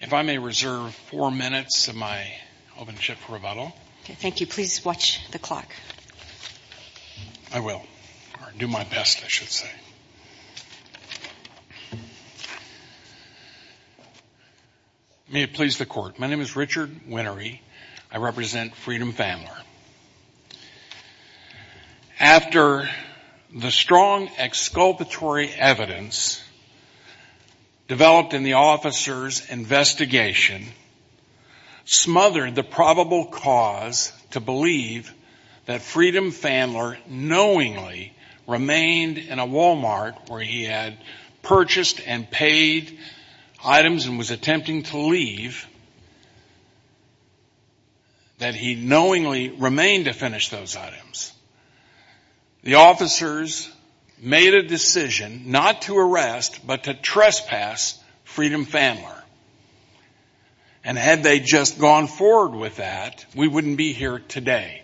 If I may reserve four minutes of my open chip for rebuttal. Okay, thank you. Please watch the clock. I will. Or do my best, I should say. May it please the Court. My name is Richard Winery. I represent Pfaendler. After the strong exculpatory evidence developed in the officer's investigation smothered the probable cause to believe that Freedom Pfaendler knowingly remained in a Walmart where he had purchased and paid items and was attempting to leave, that he knowingly remained to finish those The officers made a decision not to arrest but to trespass Freedom Pfaendler. And had they just gone forward with that, we wouldn't be here today.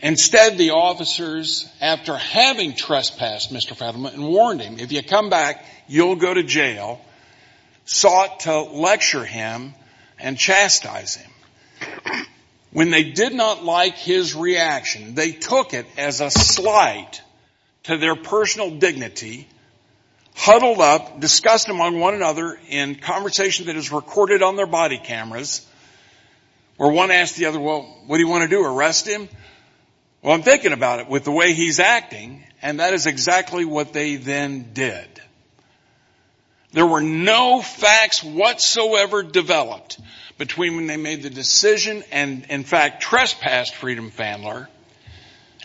Instead, the officers, after having trespassed Mr. Pfaendler and warned him, if you come back, you'll go to jail, sought to lecture him and chastise him. When they did not like his reaction, they took it as a slight to their personal dignity, huddled up, discussed him on one another in conversation that is recorded on their body cameras, where one asked the other, well, what do you want to do, arrest him? Well, I'm thinking about it with the way he's acting. And that is exactly what they then did. There were no facts whatsoever developed between when they made the decision and, in fact, trespassed Freedom Pfaendler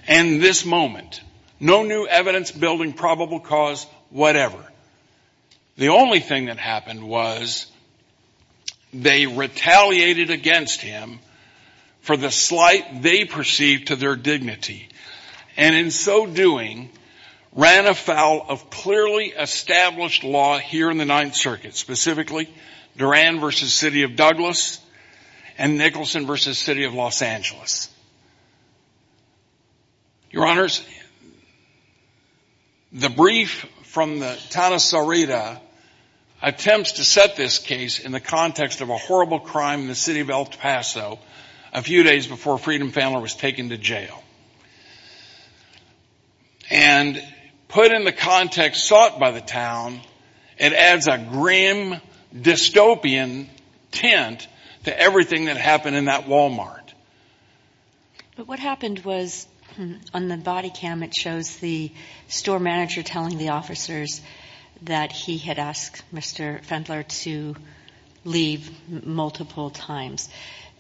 and this moment. No new evidence building probable cause, whatever. The only thing that happened was they retaliated against him for the slight they perceived to their dignity. And in so doing, ran afoul of clearly established law here in the Ninth Circuit, specifically, Duran v. City of Douglas and Nicholson v. City of Los Angeles. Your Honors, the brief from the Tana Sarita attempts to set this case in the context of a horrible crime in the city of El Paso a few days before Freedom Pfaendler was taken to jail. And put in the context sought by the town, it adds a grim, dystopian tint to everything that happened in that Wal-Mart. But what happened was, on the body cam, it shows the store manager telling the officers that he had asked Mr. Pfaendler to leave multiple times.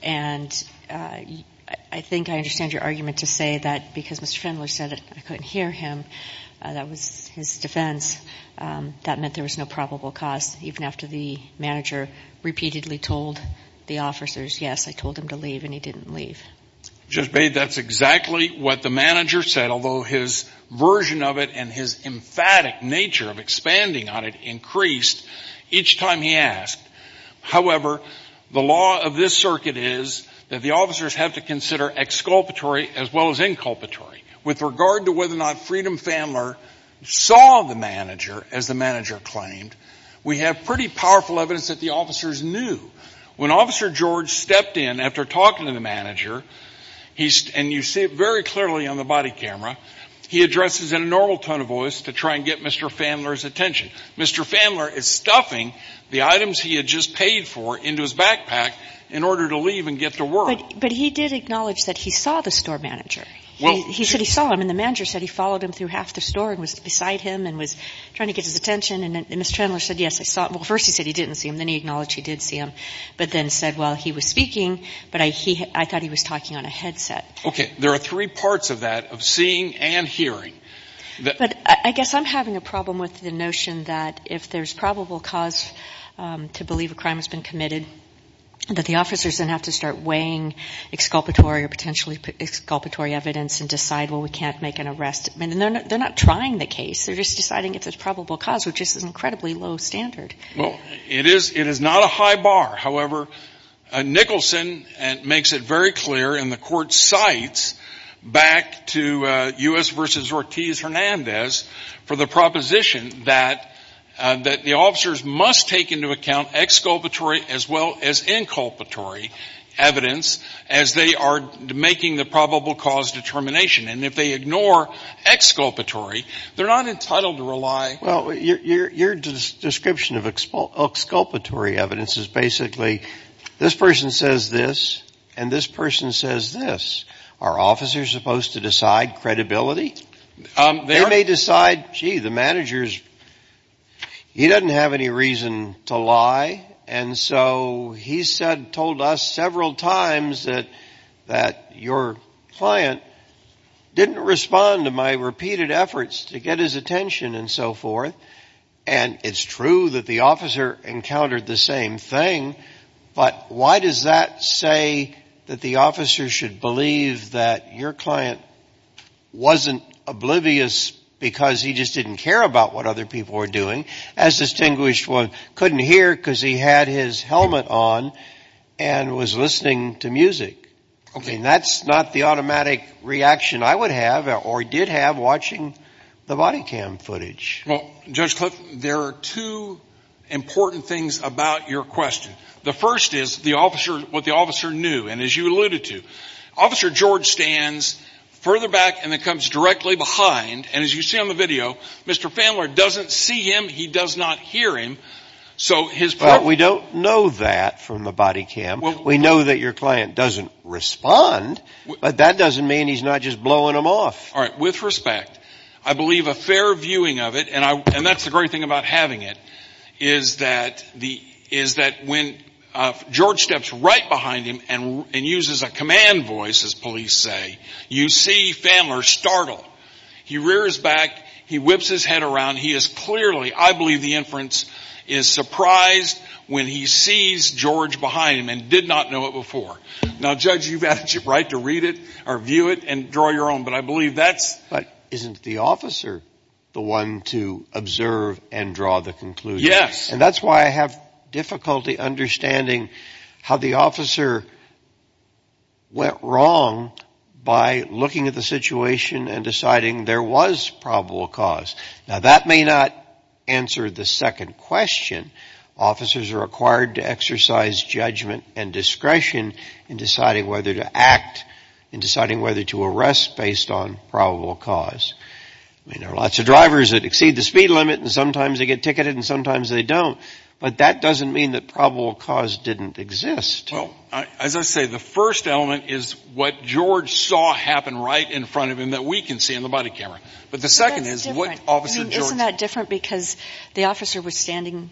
And I think I understand your argument to say that because Mr. Pfaendler said I couldn't hear him, that was his defense, that meant there was no probable cause, even after the manager repeatedly told the officers, yes, I told him to leave and he didn't leave. Judge Bate, that's exactly what the manager said, although his version of it and his emphatic nature of expanding on it increased each time he asked. However, the law of this circuit is that the officers have to consider exculpatory as well as inculpatory. With regard to whether or not Freedom Pfaendler saw the manager, as the manager claimed, we have pretty powerful evidence that the officers knew. When Officer George stepped in after talking to the manager, and you see it very clearly on the body camera, he addresses in a normal tone of voice to try and get Mr. Pfaendler's attention. Mr. Pfaendler is stuffing the items he had just paid for into his backpack in order to leave and get to work. But he did acknowledge that he saw the store manager. He said he saw him, and the manager said he followed him through half the store and was beside him and was trying to get his attention. And Mr. Pfaendler said, yes, I saw him. Well, first he said he didn't see him, then he acknowledged he did see him, but then said, well, he was speaking, but I thought he was talking on a headset. Okay. There are three parts of that, of seeing and hearing. But I guess I'm having a problem with the notion that if there's probable cause to believe a crime has been committed, that the officers then have to start weighing exculpatory or potentially exculpatory evidence and decide, well, we can't make an arrest. I mean, they're not trying the case. They're just deciding if there's probable cause, which is an incredibly low standard. Well, it is not a high bar. However, Nicholson makes it very clear, and the Court cites back to U.S. v. Ortiz-Hernandez for the proposition that the officers must take into account exculpatory as well as inculpatory evidence as they are making the probable cause determination. And if they ignore exculpatory, they're not entitled to rely Well, your description of exculpatory evidence is basically, this person says this, and this person says this. Are officers supposed to decide credibility? They may decide, gee, the manager, he doesn't have any reason to lie, and so he told us several times that your client didn't respond to my repeated efforts to get his attention and so forth. And it's true that the officer encountered the same thing, but why does that say that the officer should believe that your client wasn't oblivious because he just didn't care about what other people were doing, as distinguished one couldn't hear because he had his helmet on and was listening to music. And that's not the automatic reaction I would have or did have watching the body cam footage. Well, Judge Clift, there are two important things about your question. The first is what the officer knew, and as you alluded to, Officer George stands further back and then comes directly behind, and as you see on the video, Mr. Fandler doesn't see him, he does not hear him, so his point is that we don't know that from the body cam. We know that your client doesn't respond, but that doesn't mean he's not just blowing him off. Alright, with respect, I believe a fair viewing of it, and that's the great thing about having it, is that when George steps right behind him and uses a command voice, as police say, you see Fandler startle. He rears back, he whips his head around, he is clearly, I believe the inference, is surprised when he sees George behind him and did not know it before. Now Judge, you've had the right to read it or view it and draw your own, but I believe that's... But isn't the officer the one to observe and draw the conclusion? Yes. And that's why I have difficulty understanding how the officer went wrong by looking at the second question, officers are required to exercise judgment and discretion in deciding whether to act, in deciding whether to arrest based on probable cause. There are lots of drivers that exceed the speed limit and sometimes they get ticketed and sometimes they don't, but that doesn't mean that probable cause didn't exist. Well, as I say, the first element is what George saw happen right in front of him that we can see in the body camera, but the second is what officer George... The officer was standing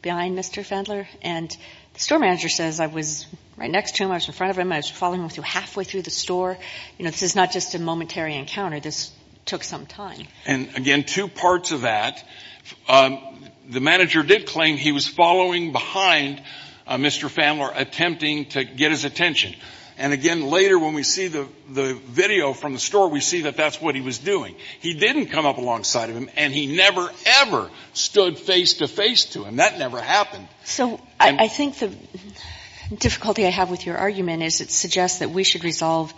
behind Mr. Fandler and the store manager says, I was right next to him, I was in front of him, I was following him halfway through the store. This is not just a momentary encounter, this took some time. And again, two parts of that. The manager did claim he was following behind Mr. Fandler attempting to get his attention. And again, later when we see the video from the store, we see that that's what he was doing. He didn't come up alongside of him and he never, ever stood face-to-face to him. That never happened. So I think the difficulty I have with your argument is it suggests that we should resolve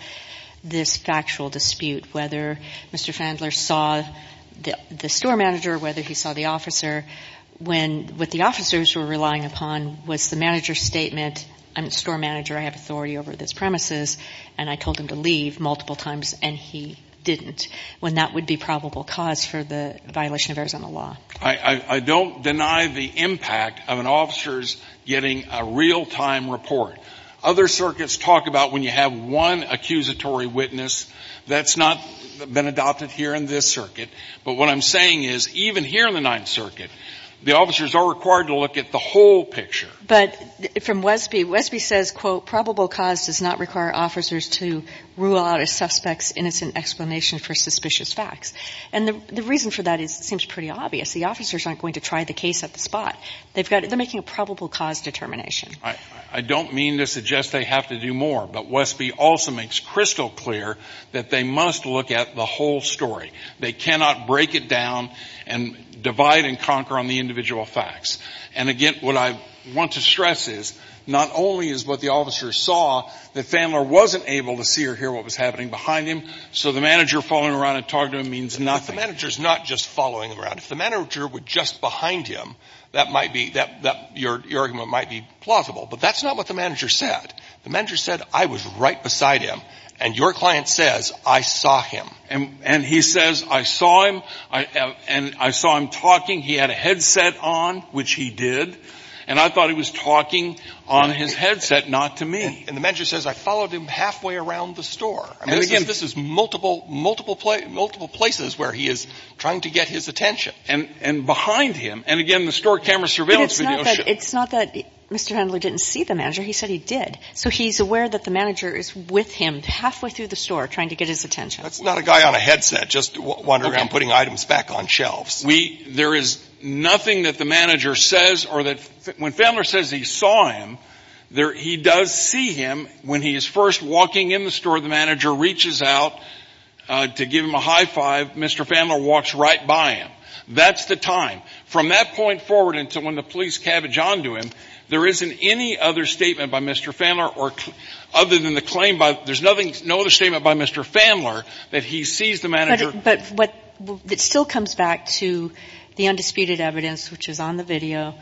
this factual dispute, whether Mr. Fandler saw the store manager, whether he saw the officer, when what the officers were relying upon was the manager's statement, I'm the store manager, I have authority over this premises, and I told him to leave multiple times and he didn't, when that would be probable cause for the violation of Arizona law. I don't deny the impact of an officer's getting a real-time report. Other circuits talk about when you have one accusatory witness, that's not been adopted here in this circuit, but what I'm saying is even here in the Ninth Circuit, the officers are required to look at the whole picture. But from Wesby, Wesby says, quote, probable cause does not require officers to rule out a suspect's innocent explanation for suspicious facts. And the reason for that seems pretty obvious. The officers aren't going to try the case at the spot. They're making a probable cause determination. I don't mean to suggest they have to do more, but Wesby also makes crystal clear that they must look at the whole story. They cannot break it down and divide and conquer on the individual facts. And again, what I want to stress is, not only is what the officers saw that Fandler wasn't able to see or hear what was happening behind him, so the manager following around and talking to him means nothing. The manager is not just following around. If the manager were just behind him, that might be — your argument might be plausible. But that's not what the manager said. The manager said, I was right beside him. And your client says, I saw him. And he says, I saw him, and I saw him talking. He had a headset on, which he did. And I thought he was talking on his headset, not to me. And the manager says, I followed him halfway around the store. And again, this is multiple, multiple places where he is trying to get his attention. And behind him — and again, the store camera surveillance video shows — But it's not that Mr. Fandler didn't see the manager. He said he did. So he's aware that the manager is with him halfway through the store trying to get his attention. That's not a guy on a headset just wandering around putting items back on shelves. We — there is nothing that the manager says or that — when Fandler says he saw him, he does see him when he is first walking in the store. The manager reaches out to give him a high five. Mr. Fandler walks right by him. That's the time. From that point forward until when the police cabbage onto him, there isn't any other statement by Mr. Fandler or — other than the claim by — there's nothing — no other statement by Mr. Fandler that he sees the manager — But what — it still comes back to the undisputed evidence, which is on the video,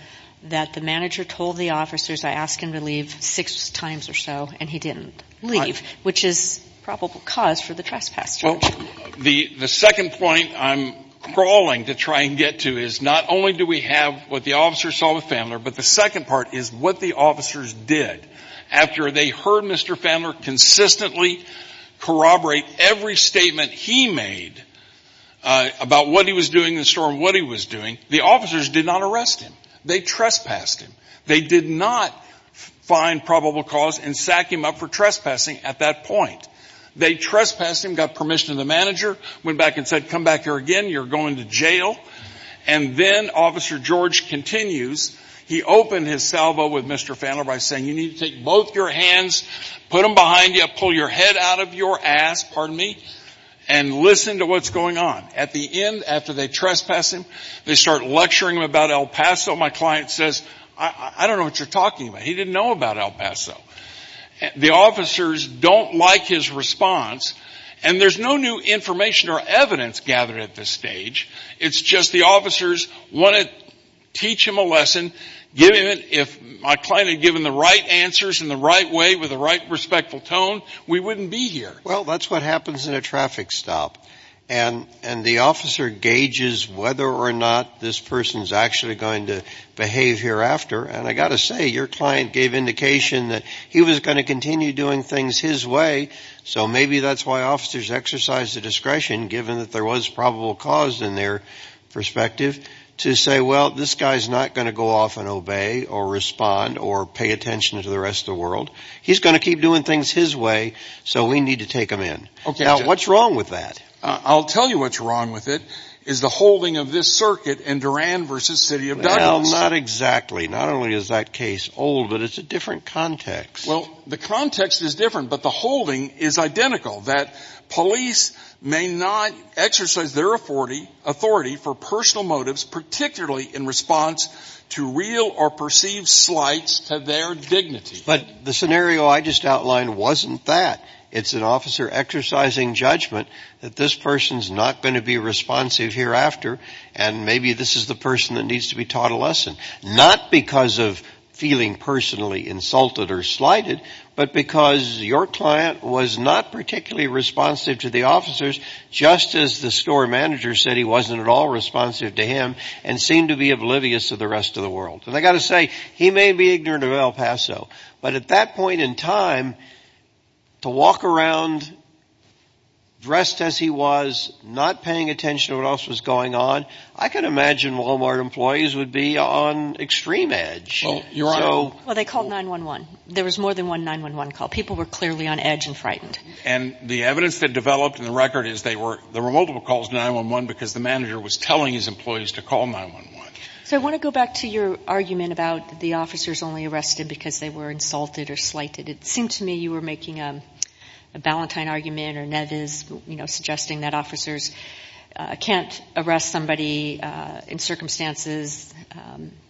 that the manager told the officers, I asked him to leave six times or so, and he didn't leave, which is probable cause for the trespass charge. Well, the second point I'm crawling to try and get to is not only do we have what the officers saw with Fandler, but the second part is what the officers did. After they heard Mr. Fandler consistently corroborate every statement he made about what he was doing in the store and what he was doing, the officers did not arrest him. They trespassed him. They did not find probable cause and sack him up for trespassing at that point. They trespassed him, got permission of the manager, went back and said, come back here again, you're going to jail. And then Officer George continues. He opened his salvo with Mr. Fandler by saying, you need to take both your hands, put them behind you, pull your head out of your ass, pardon me, and listen to what's going on. At the end, after they trespass him, they start lecturing him about El Paso. My client says, I don't know what you're talking about. He didn't know about El Paso. The officers don't like his response, and there's no new information or evidence gathered at this stage. It's just the officers want to teach him a lesson, give him it. If my client had given the right answers in the right way with the right respectful tone, we wouldn't be here. Well, that's what happens in a traffic stop. And the officer gauges whether or not this person is actually going to behave hereafter. And I've got to say, your client gave indication that he was going to continue doing things his way. So maybe that's why officers exercise the discretion, given that there was probable cause in their perspective, to say, well, this guy's not going to go off and obey or respond or pay attention to the rest of the world. He's going to keep doing things his way, so we need to take him in. Now, what's wrong with that? I'll tell you what's wrong with it is the holding of this circuit in Duran versus City of Douglas. Not exactly. Not only is that case old, but it's a different context. Well, the context is different, but the holding is identical, that police may not exercise their authority for personal motives, particularly in response to real or perceived slights to their dignity. But the scenario I just outlined wasn't that. It's an officer exercising judgment that this person's not going to be responsive hereafter, and maybe this is the person that needs to be taught a lesson. Not because of feeling personally insulted or slighted, but because your client was not particularly responsive to the officers, just as the store manager said he wasn't at all responsive to him and seemed to be oblivious to the rest of the world. And I've got to say, he may be ignorant of El Paso, but at that point in time, to walk around dressed as he was, not paying attention to what else was going on, I could imagine Walmart employees would be on extreme edge. Well, they called 9-1-1. There was more than one 9-1-1 call. People were clearly on edge and frightened. And the evidence that developed in the record is there were multiple calls to 9-1-1 because the manager was telling his employees to call 9-1-1. So I want to go back to your argument about the officers only It seemed to me you were making a Ballantyne argument or Nevis, suggesting that officers can't arrest somebody in circumstances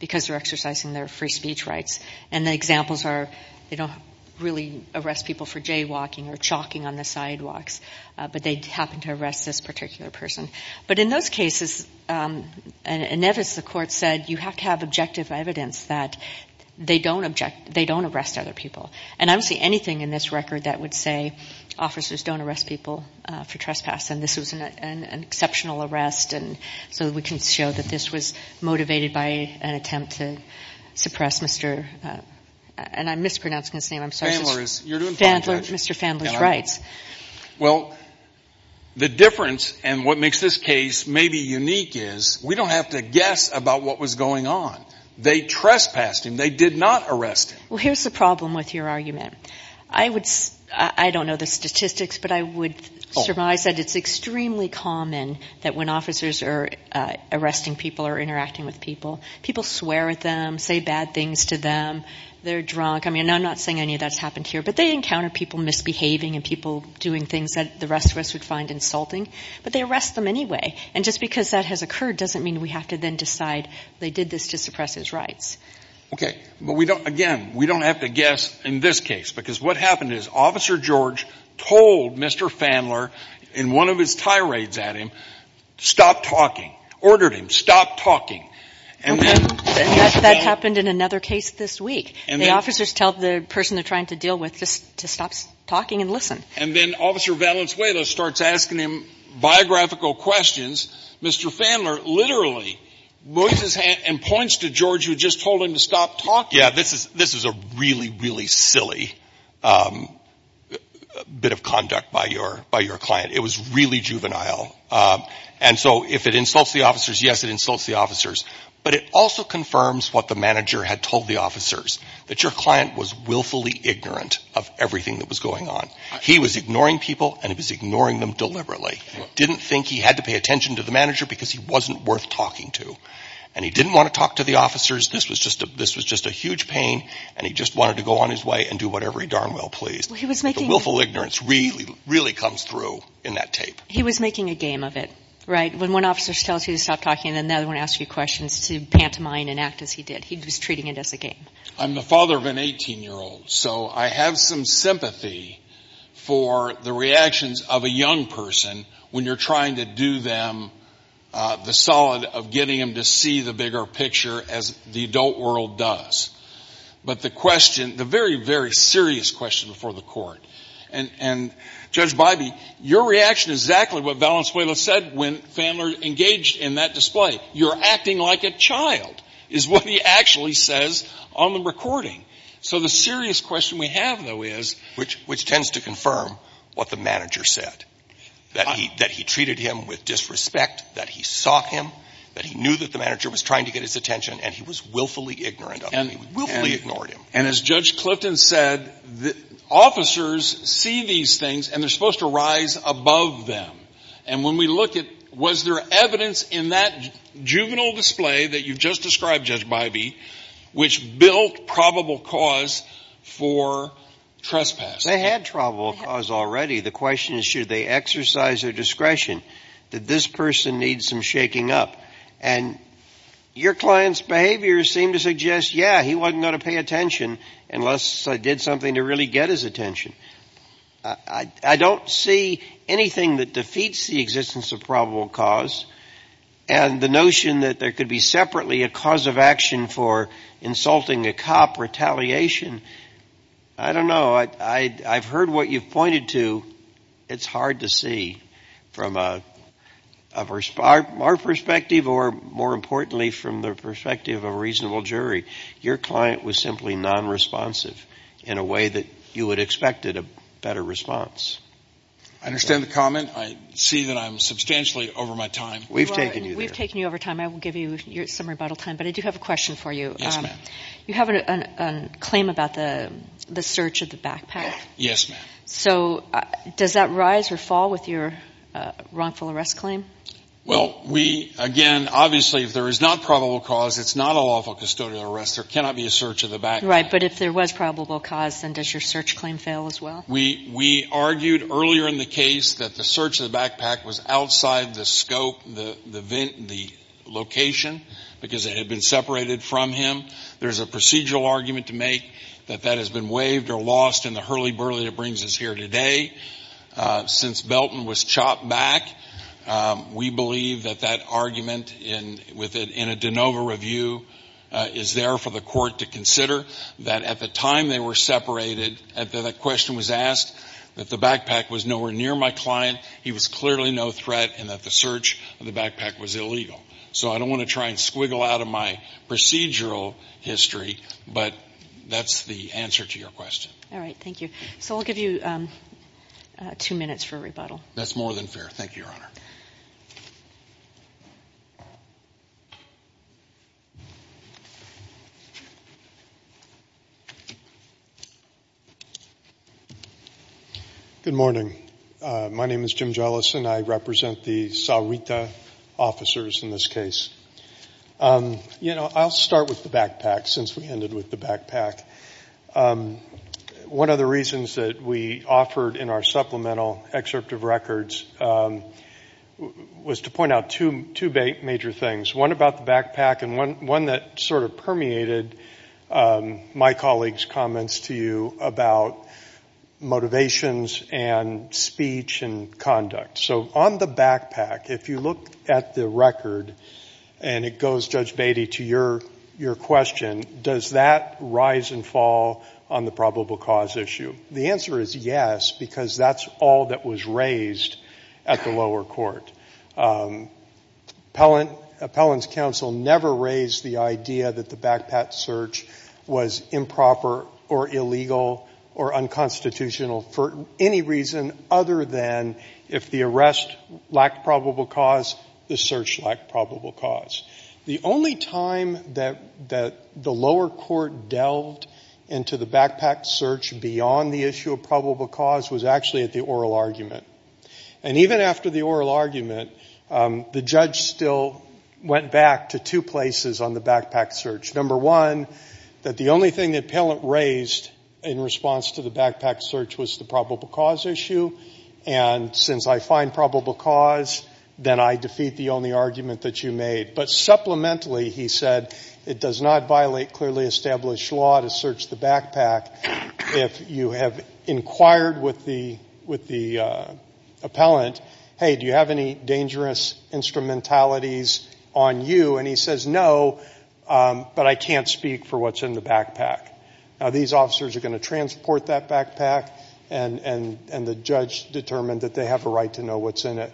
because they're exercising their free speech rights. And the examples are they don't really arrest people for jaywalking or chalking on the sidewalks, but they happen to arrest this particular person. But in those cases, and Nevis, the court said, you have to have objective evidence that they don't arrest other people. And I don't see anything in this record that would say officers don't arrest people for trespass. And this was an exceptional arrest. And so we can show that this was motivated by an attempt to suppress Mr. And I'm mispronouncing his name. Mr. Fandler's rights. Well, the difference and what makes this case maybe unique is we don't have to guess about what was going on. They trespassed him. They did not arrest him. Well, here's the problem with your argument. I don't know the statistics, but I would surmise that it's extremely common that when officers are arresting people or interacting with people, people swear at them, say bad things to them. They're drunk. I mean, I'm not saying any of that's happened here, but they encounter people misbehaving and people doing things that the rest of us would find insulting. But they arrest them anyway. And just because that has occurred doesn't mean we have to then decide they did this to suppress his rights. Okay. But we don't, again, we don't have to guess in this case, because what happened is Officer George told Mr. Fandler in one of his tirades at him, stop talking, ordered him stop talking. And that happened in another case this week. And the officers tell the person they're trying to deal with just to stop talking and listen. And then Officer Valenzuela starts asking biographical questions. Mr. Fandler literally raises his hand and points to George who just told him to stop talking. Yeah, this is a really, really silly bit of conduct by your client. It was really juvenile. And so if it insults the officers, yes, it insults the officers. But it also confirms what the manager had told the officers, that your client was willfully ignorant of everything that was going on. He was ignoring people and he was ignoring them deliberately. Didn't think he had to pay attention to the manager because he wasn't worth talking to. And he didn't want to talk to the officers. This was just a huge pain. And he just wanted to go on his way and do whatever he darn well pleased. The willful ignorance really, really comes through in that tape. He was making a game of it, right? When one officer tells you to stop talking and then the other one asks you questions to pantomime and act as he did. He was treating it as a game. I'm the father of an 18-year-old, so I have some sympathy for the reactions of a young person when you're trying to do them the solid of getting them to see the bigger picture as the adult world does. But the question, the very, very serious question before the court, and Judge Bybee, your reaction is exactly what Valenzuela said when Fanler engaged in that recording. So the serious question we have, though, is... Which tends to confirm what the manager said. That he treated him with disrespect, that he saw him, that he knew that the manager was trying to get his attention, and he was willfully ignorant of him. He willfully ignored him. And as Judge Clifton said, officers see these things and they're supposed to rise above them. And when we look at, was there evidence in that juvenile display that you've just described, Judge Bybee, which built probable cause for trespass? They had probable cause already. The question is, should they exercise their discretion? Did this person need some shaking up? And your client's behavior seemed to suggest, yeah, he wasn't going to pay attention unless I did something to really get his attention. I don't see anything that defeats the existence of probable cause. And the notion that there could be separately a cause of action for insulting a cop, retaliation, I don't know. I've heard what you've pointed to. It's hard to see from our perspective or, more importantly, from the perspective of a reasonable jury. Your client was simply non-responsive in a way that you would expect a better response. I understand the comment. I see that I'm substantially over my time. We've taken you there. We've taken you over time. I will give you some rebuttal time. But I do have a question for you. Yes, ma'am. You have a claim about the search of the backpack. Yes, ma'am. So does that rise or fall with your wrongful arrest claim? Well, we, again, obviously, if there is not probable cause, it's not a lawful custodial arrest. There cannot be a search of the backpack. Right. But if there was probable cause, then does your search claim fail as well? We argued earlier in the case that the search of the backpack was outside the scope, the location, because it had been separated from him. There's a procedural argument to make that that has been waived or lost in the hurly-burly that brings us here today. Since Belton was chopped back, we believe that that argument, with it in a de novo review, is there for the court to consider, that at the time they were separated, after that question was asked, that the backpack was nowhere near my client, he was clearly no threat, and that the search of the backpack was illegal. So I don't want to try and squiggle out of my procedural history, but that's the answer to your question. All right. Thank you. So I'll give you two minutes for rebuttal. That's more than fair. Thank you, Your Honor. Good morning. My name is Jim Jellison. I represent the Sahuita officers in this case. You know, I'll start with the backpack, since we ended with the backpack. One of the reasons that we offered in our supplemental excerpt of records was to point out two major things, one about the backpack and one that sort of permeated my colleague's comments to you about motivations and speech and conduct. So on the backpack, if you look at the record, and it goes, Judge Beatty, to your question, does that rise and fall on the probable cause issue? The answer is yes, because that's all that was raised at the lower court. Appellant's counsel never raised the idea that the backpack search was improper or illegal or unconstitutional for any reason other than if the arrest lacked probable cause, the search lacked probable cause. The only time that the lower court delved into the backpack search beyond the issue of probable cause was actually at the oral argument. And even after the oral argument, the judge still went back to two places on the backpack search. Number one, that the only thing the appellant raised in response to the backpack search was the probable cause issue, and since I find probable cause, then I defeat the only argument that you made. But supplementally, he said, it does not violate clearly established law to search the backpack if you have inquired with the appellant, hey, do you have any dangerous instrumentalities on you? And he says, no, but I can't speak for what's in the backpack. Now, these officers are going to transport that backpack, and the judge determined that they have a right to know what's in it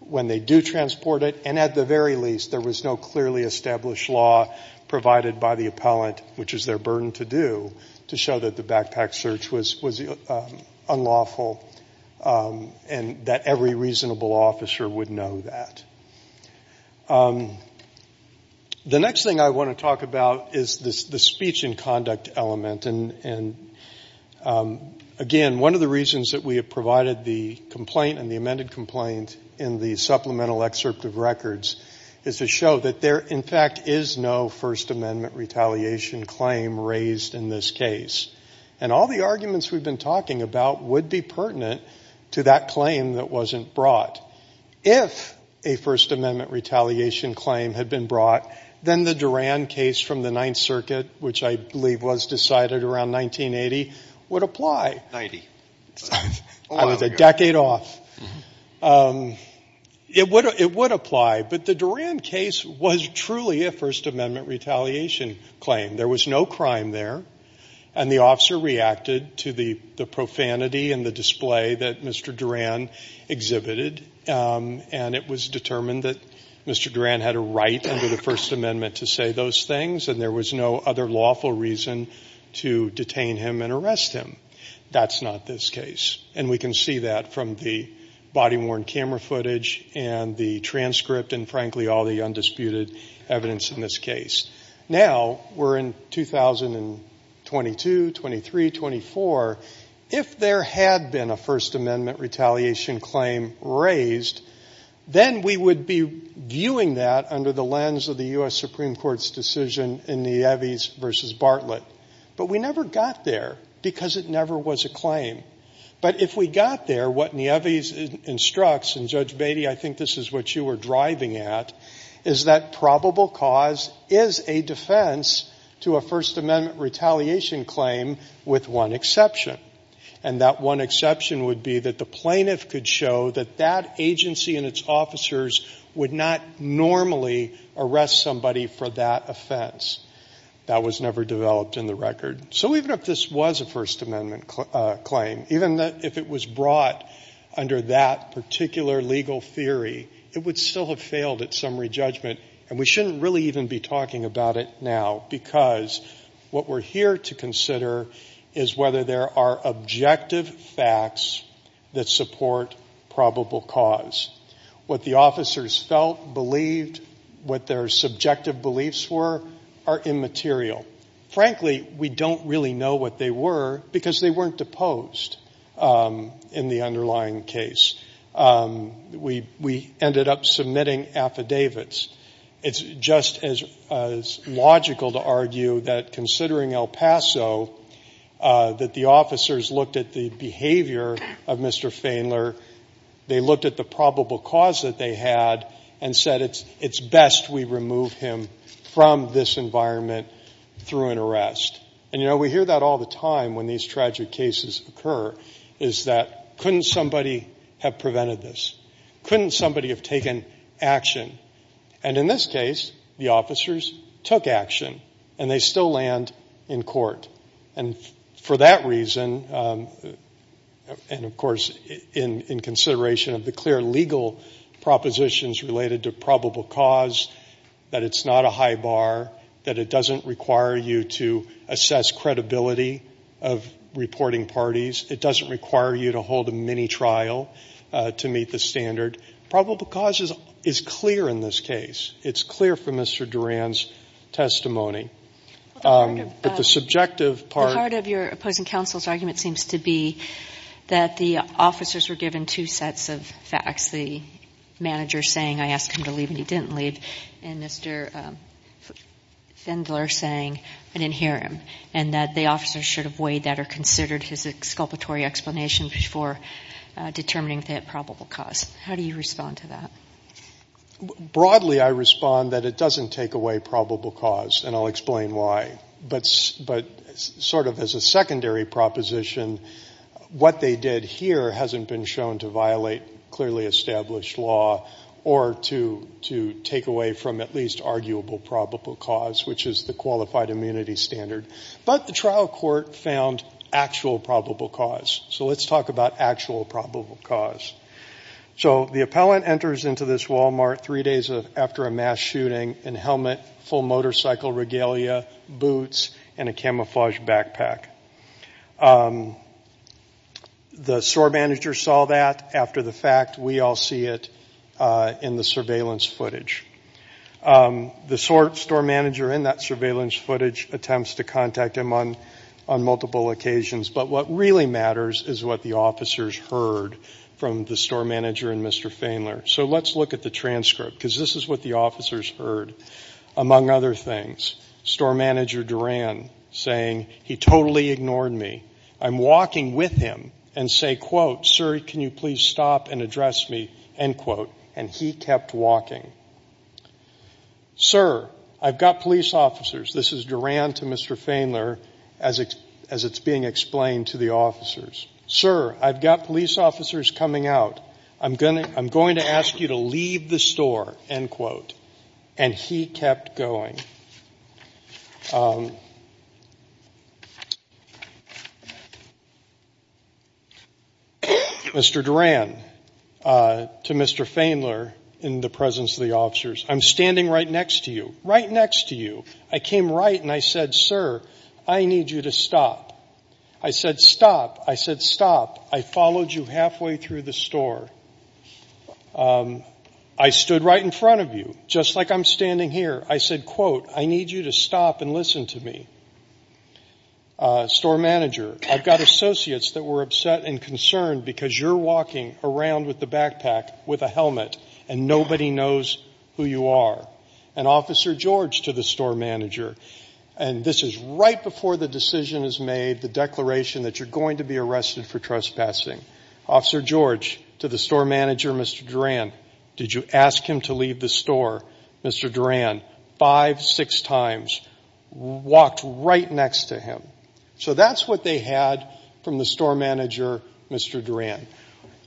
when they do transport it. And at the very least, there was no clearly established law provided by the appellant, which is their burden to do, to show that the backpack search was unlawful and that every reasonable officer would know that. The next thing I want to talk about is the speech and conduct element. And again, one of the reasons that we have provided the complaint and the amended complaint in the supplemental excerpt of records is to show that there, in fact, is no First Amendment retaliation claim raised in this case. And all the arguments we've been talking about would be pertinent to that claim that wasn't brought. If a First Amendment retaliation claim had been brought, then the Duran case from the Ninth Circuit, which I believe was decided around 1980, would apply. Ninety. I was a decade off. It would apply, but the Duran case was truly a First Amendment retaliation claim. There was no crime there, and the officer reacted to the profanity and the display that Mr. Duran exhibited. And it was determined that Mr. Duran had a right under the First Amendment to say those things, and there was no other lawful reason to detain him and arrest him. That's not this case. And we can see that from the body-worn camera footage and the transcript and, frankly, all the undisputed evidence in this case. Now, we're in 2022, 23, 24. If there had been a First Amendment retaliation claim raised, then we would be viewing that under the lens of the U.S. Supreme Court's decision in the Evies v. Bartlett. But if we got there, what the Evies instructs, and Judge Beatty, I think this is what you were driving at, is that probable cause is a defense to a First Amendment retaliation claim with one exception, and that one exception would be that the plaintiff could show that that agency and its officers would not normally arrest somebody for that offense. That was never developed in the record. So even if this was a First Amendment claim, even if it was brought under that particular legal theory, it would still have failed at summary judgment, and we shouldn't really even be talking about it now, because what we're here to consider is whether there are objective facts that support probable cause. What the officers felt, believed, what their subjective beliefs were, are immaterial. Frankly, we don't really know what they were, because they weren't deposed in the underlying case. We ended up submitting affidavits. It's just as logical to argue that, considering El Paso, that the officers looked at the behavior of Mr. Fainler, they looked at the probable cause that they had, and said it's best we remove him from this environment through an arrest. And, you know, we hear that all the time when these tragic cases occur, is that couldn't somebody have prevented this? Couldn't somebody have taken action? And in this case, the officers took action, and they still land in court. And for that reason, and of course in consideration of the clear legal propositions related to probable cause, that it's not a high bar, that it doesn't require you to assess credibility of reporting parties, it doesn't require you to hold a mini-trial to meet the standard. Probable cause is clear in this case. It's clear from Mr. Duran's testimony. But the subjective part... The heart of your opposing counsel's argument seems to be that the officers were given two he didn't leave, and Mr. Fainler saying, I didn't hear him, and that the officers should have weighed that or considered his exculpatory explanation before determining that probable cause. How do you respond to that? Broadly, I respond that it doesn't take away probable cause, and I'll explain why. But sort of as a secondary proposition, what they did here hasn't been shown to violate clearly established law or to take away from at least arguable probable cause, which is the qualified immunity standard. But the trial court found actual probable cause. So let's talk about actual probable cause. So the appellant enters into this Walmart three days after a mass shooting in helmet, full motorcycle regalia, boots, and a camouflaged backpack. The store manager saw that. After the fact, we all see it in the surveillance footage. The store manager in that surveillance footage attempts to contact him on multiple occasions. But what really matters is what the officers heard from the store manager and Mr. Fainler. So let's look at the transcript, because this is what the officers heard, among other things. Store manager Duran saying, he totally ignored me. I'm walking with him and say, quote, sir, can you please stop and address me, end quote. And he kept walking. Sir, I've got police officers. This is Duran to Mr. Fainler as it's being explained to the officers. Sir, I've got police officers coming out. I'm going to ask you to leave the store, end quote. And he kept going. Mr. Duran to Mr. Fainler in the presence of the officers, I'm standing right next to you, right next to you. I came right and I said, sir, I need you to stop. I said, stop. I said, stop. I followed you halfway through the store. I stood right in front of you, just like I'm standing here. I said, quote, I need you to stop and listen to me. Store manager, I've got associates that were upset and concerned because you're walking around with the backpack with a helmet and nobody knows who you are. And Officer George to the store manager, and this is right before the decision is made, the declaration that you're going to be arrested for trespassing. Officer George to the store manager, Mr. Duran, did you ask him to leave the store? Mr. Duran, five, six times, walked right next to him. So that's what they had from the store manager, Mr. Duran.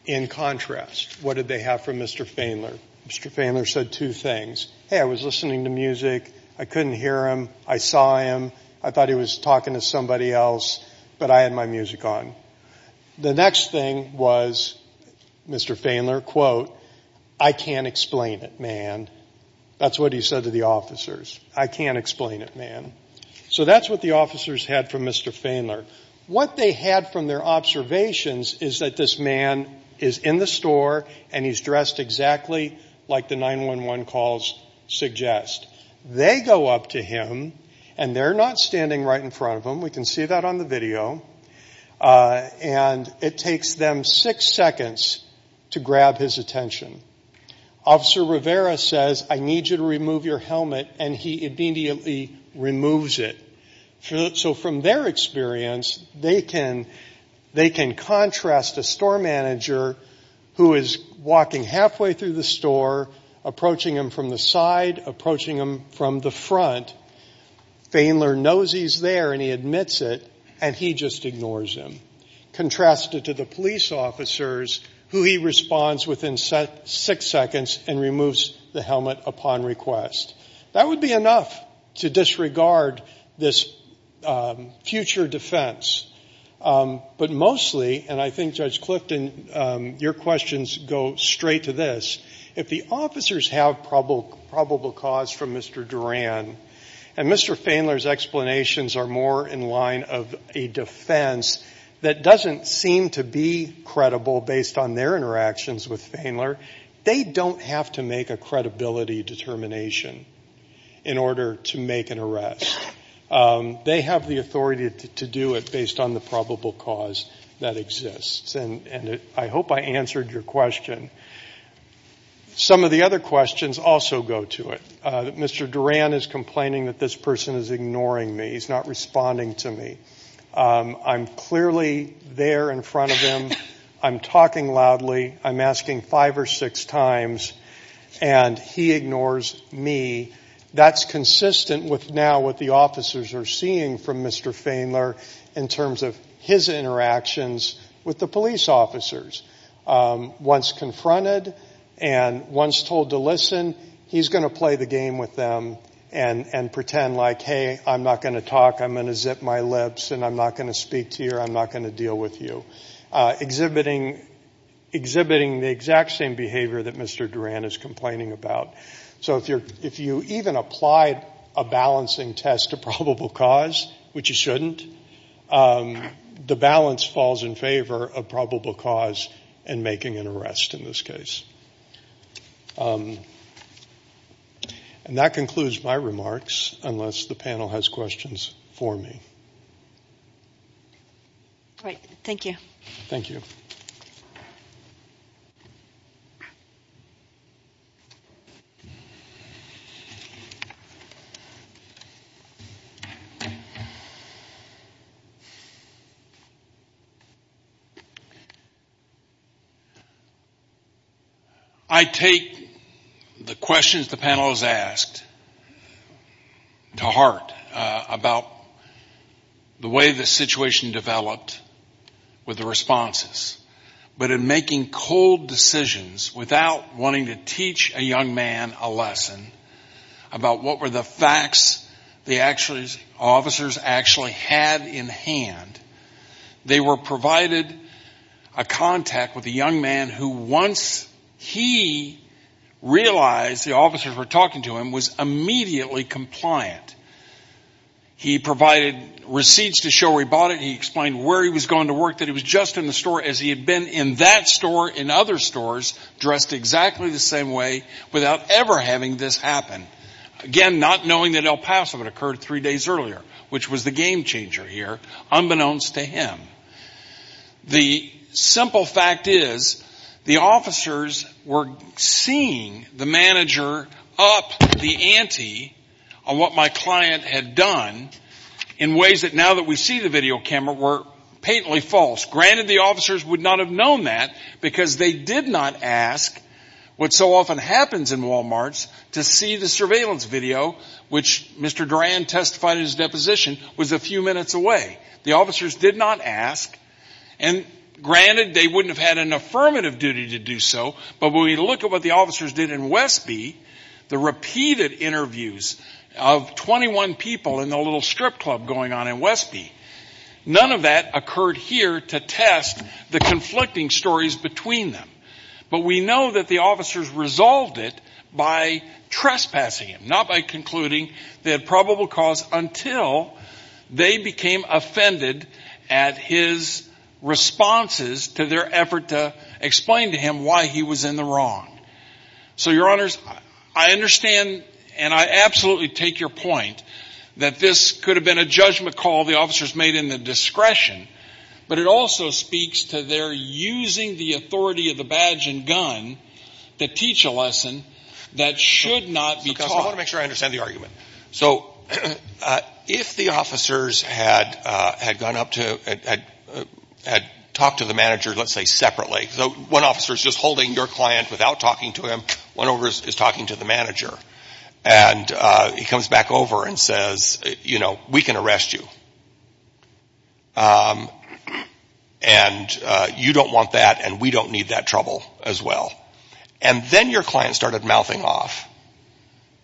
In contrast, what did they have from Mr. Fainler? Mr. Fainler said two things. Hey, I was listening to music. I couldn't hear him. I saw him. I thought he was talking to somebody else. But I had my music on. The next thing was, Mr. Fainler, quote, I can't explain it, man. That's what he said to the officers. I can't explain it, man. So that's what the officers had from Mr. Fainler. What they had from their observations is that this man is in the store and he's dressed exactly like the 911 calls suggest. They go up to him and they're not standing right in front of him. We can see that on the video. And it takes them six seconds to grab his attention. Officer Rivera says, I need you to remove your helmet. And he immediately removes it. So from their experience, they can contrast a store manager who is walking halfway through the store, approaching him from the side, approaching him from the front. Fainler knows he's there and he admits it. And he just ignores him. Contrasted to the police officers, who he responds within six seconds and removes the helmet upon request. That would be enough to disregard this future defense. But mostly, and I think Judge Clifton, your questions go straight to this. If the officers have probable cause from Mr. Duran, and Mr. Fainler's explanations are more in line of a defense that doesn't seem to be credible based on their interactions with Fainler, they don't have to make a credibility determination in order to make an arrest. They have the authority to do it based on the probable cause that exists. And I hope I answered your question. Some of the other questions also go to it. Mr. Duran is complaining that this person is ignoring me. He's not responding to me. I'm clearly there in front of him. I'm talking loudly. I'm asking five or six times. And he ignores me. That's consistent with now what the officers are seeing from Mr. Fainler in terms of his interactions with the police officers. Once confronted and once told to listen, he's going to play the game with them and pretend like, hey, I'm not going to talk. I'm going to zip my lips and I'm not going to speak to you or I'm not going to deal with you, exhibiting the exact same behavior that Mr. Duran is complaining about. So if you even applied a balancing test to probable cause, which you shouldn't, the balance falls in favor of probable cause and making an arrest in this case. And that concludes my remarks, unless the panel has questions for me. All right. Thank you. Thank you. I take the questions the panel has asked to heart about the way the situation developed with the responses. But in making cold decisions without wanting to teach a young man a lesson about what were the facts the officers actually had in hand, they were provided a contact with a young man who, once he realized the officers were talking to him, was immediately compliant. He provided receipts to show where he bought it. He explained where he was going to work, that he was just in the store as he had been in that store, in other stores, dressed exactly the same way, without ever having this happen. Again, not knowing that El Paso had occurred three days earlier, which was the game changer here, unbeknownst to him. The simple fact is, the officers were seeing the manager up the ante on what my client had done in ways that, now that we see the video camera, were patently false. Granted, the officers would not have known that, because they did not ask what so often happens in Walmarts to see the surveillance video, which Mr. Duran testified in his deposition was a few minutes away. The officers did not ask, and granted, they wouldn't have had an affirmative duty to do so, but when we look at what the officers did in Westby, the repeated interviews of 21 people in the little strip club going on in Westby, none of that occurred here to test the conflicting stories between them. But we know that the officers resolved it by trespassing him, not by concluding they became offended at his responses to their effort to explain to him why he was in the wrong. So, your honors, I understand, and I absolutely take your point, that this could have been a judgment call the officers made in the discretion, but it also speaks to their using the authority of the badge and gun to teach a lesson that should not be taught. I want to make sure I understand the argument. So, if the officers had gone up to, had talked to the manager, let's say, separately, one officer is just holding your client without talking to him, one over is talking to the manager, and he comes back over and says, you know, we can arrest you, and you don't want that, and we don't need that trouble as well, and then your client started mouthing off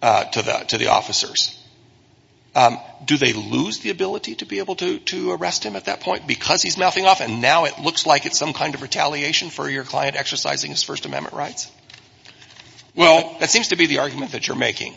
to the officers. Do they lose the ability to be able to arrest him at that point because he's mouthing off, and now it looks like it's some kind of retaliation for your client exercising his First Amendment rights? Well, that seems to be the argument that you're making.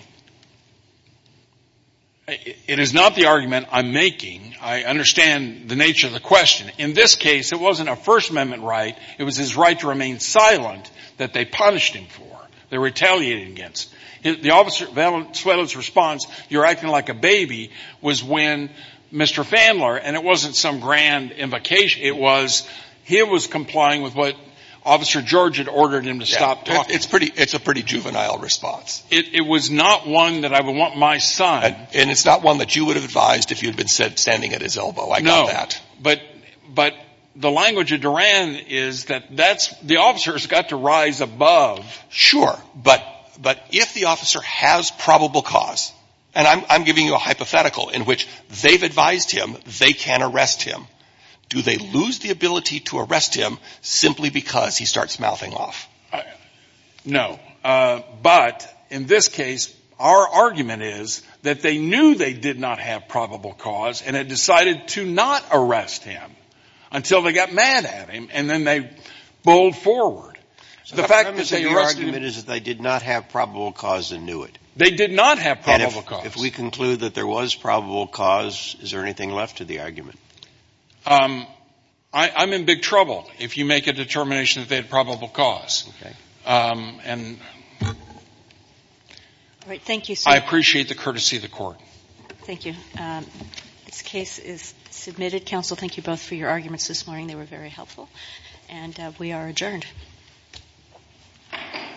It is not the argument I'm making. I understand the nature of the question. In this case, it wasn't a First Amendment right. It was his right to remain silent that they punished him for. They retaliated against. The officer's response, you're acting like a baby, was when Mr. Fandler, and it wasn't some grand invocation, it was he was complying with what Officer George had ordered him to stop talking. It's a pretty juvenile response. It was not one that I would want my son. And it's not one that you would have advised if you'd been standing at his elbow. I got that. But the language of Duran is that the officers got to rise above. Sure, but if the officer has probable cause, and I'm giving you a hypothetical in which they've advised him they can arrest him, do they lose the ability to arrest him simply because he starts mouthing off? No, but in this case, our argument is that they knew they did not have probable cause and had decided to not arrest him until they got mad at him, and then they pulled forward. The fact is that your argument is that they did not have probable cause and knew it. They did not have probable cause. If we conclude that there was probable cause, is there anything left to the argument? I'm in big trouble if you make a determination that they had probable cause. All right. Thank you, sir. I appreciate the courtesy of the Court. Thank you. This case is submitted. Counsel, thank you both for your arguments this morning. They were very helpful. And we are adjourned. Thank you.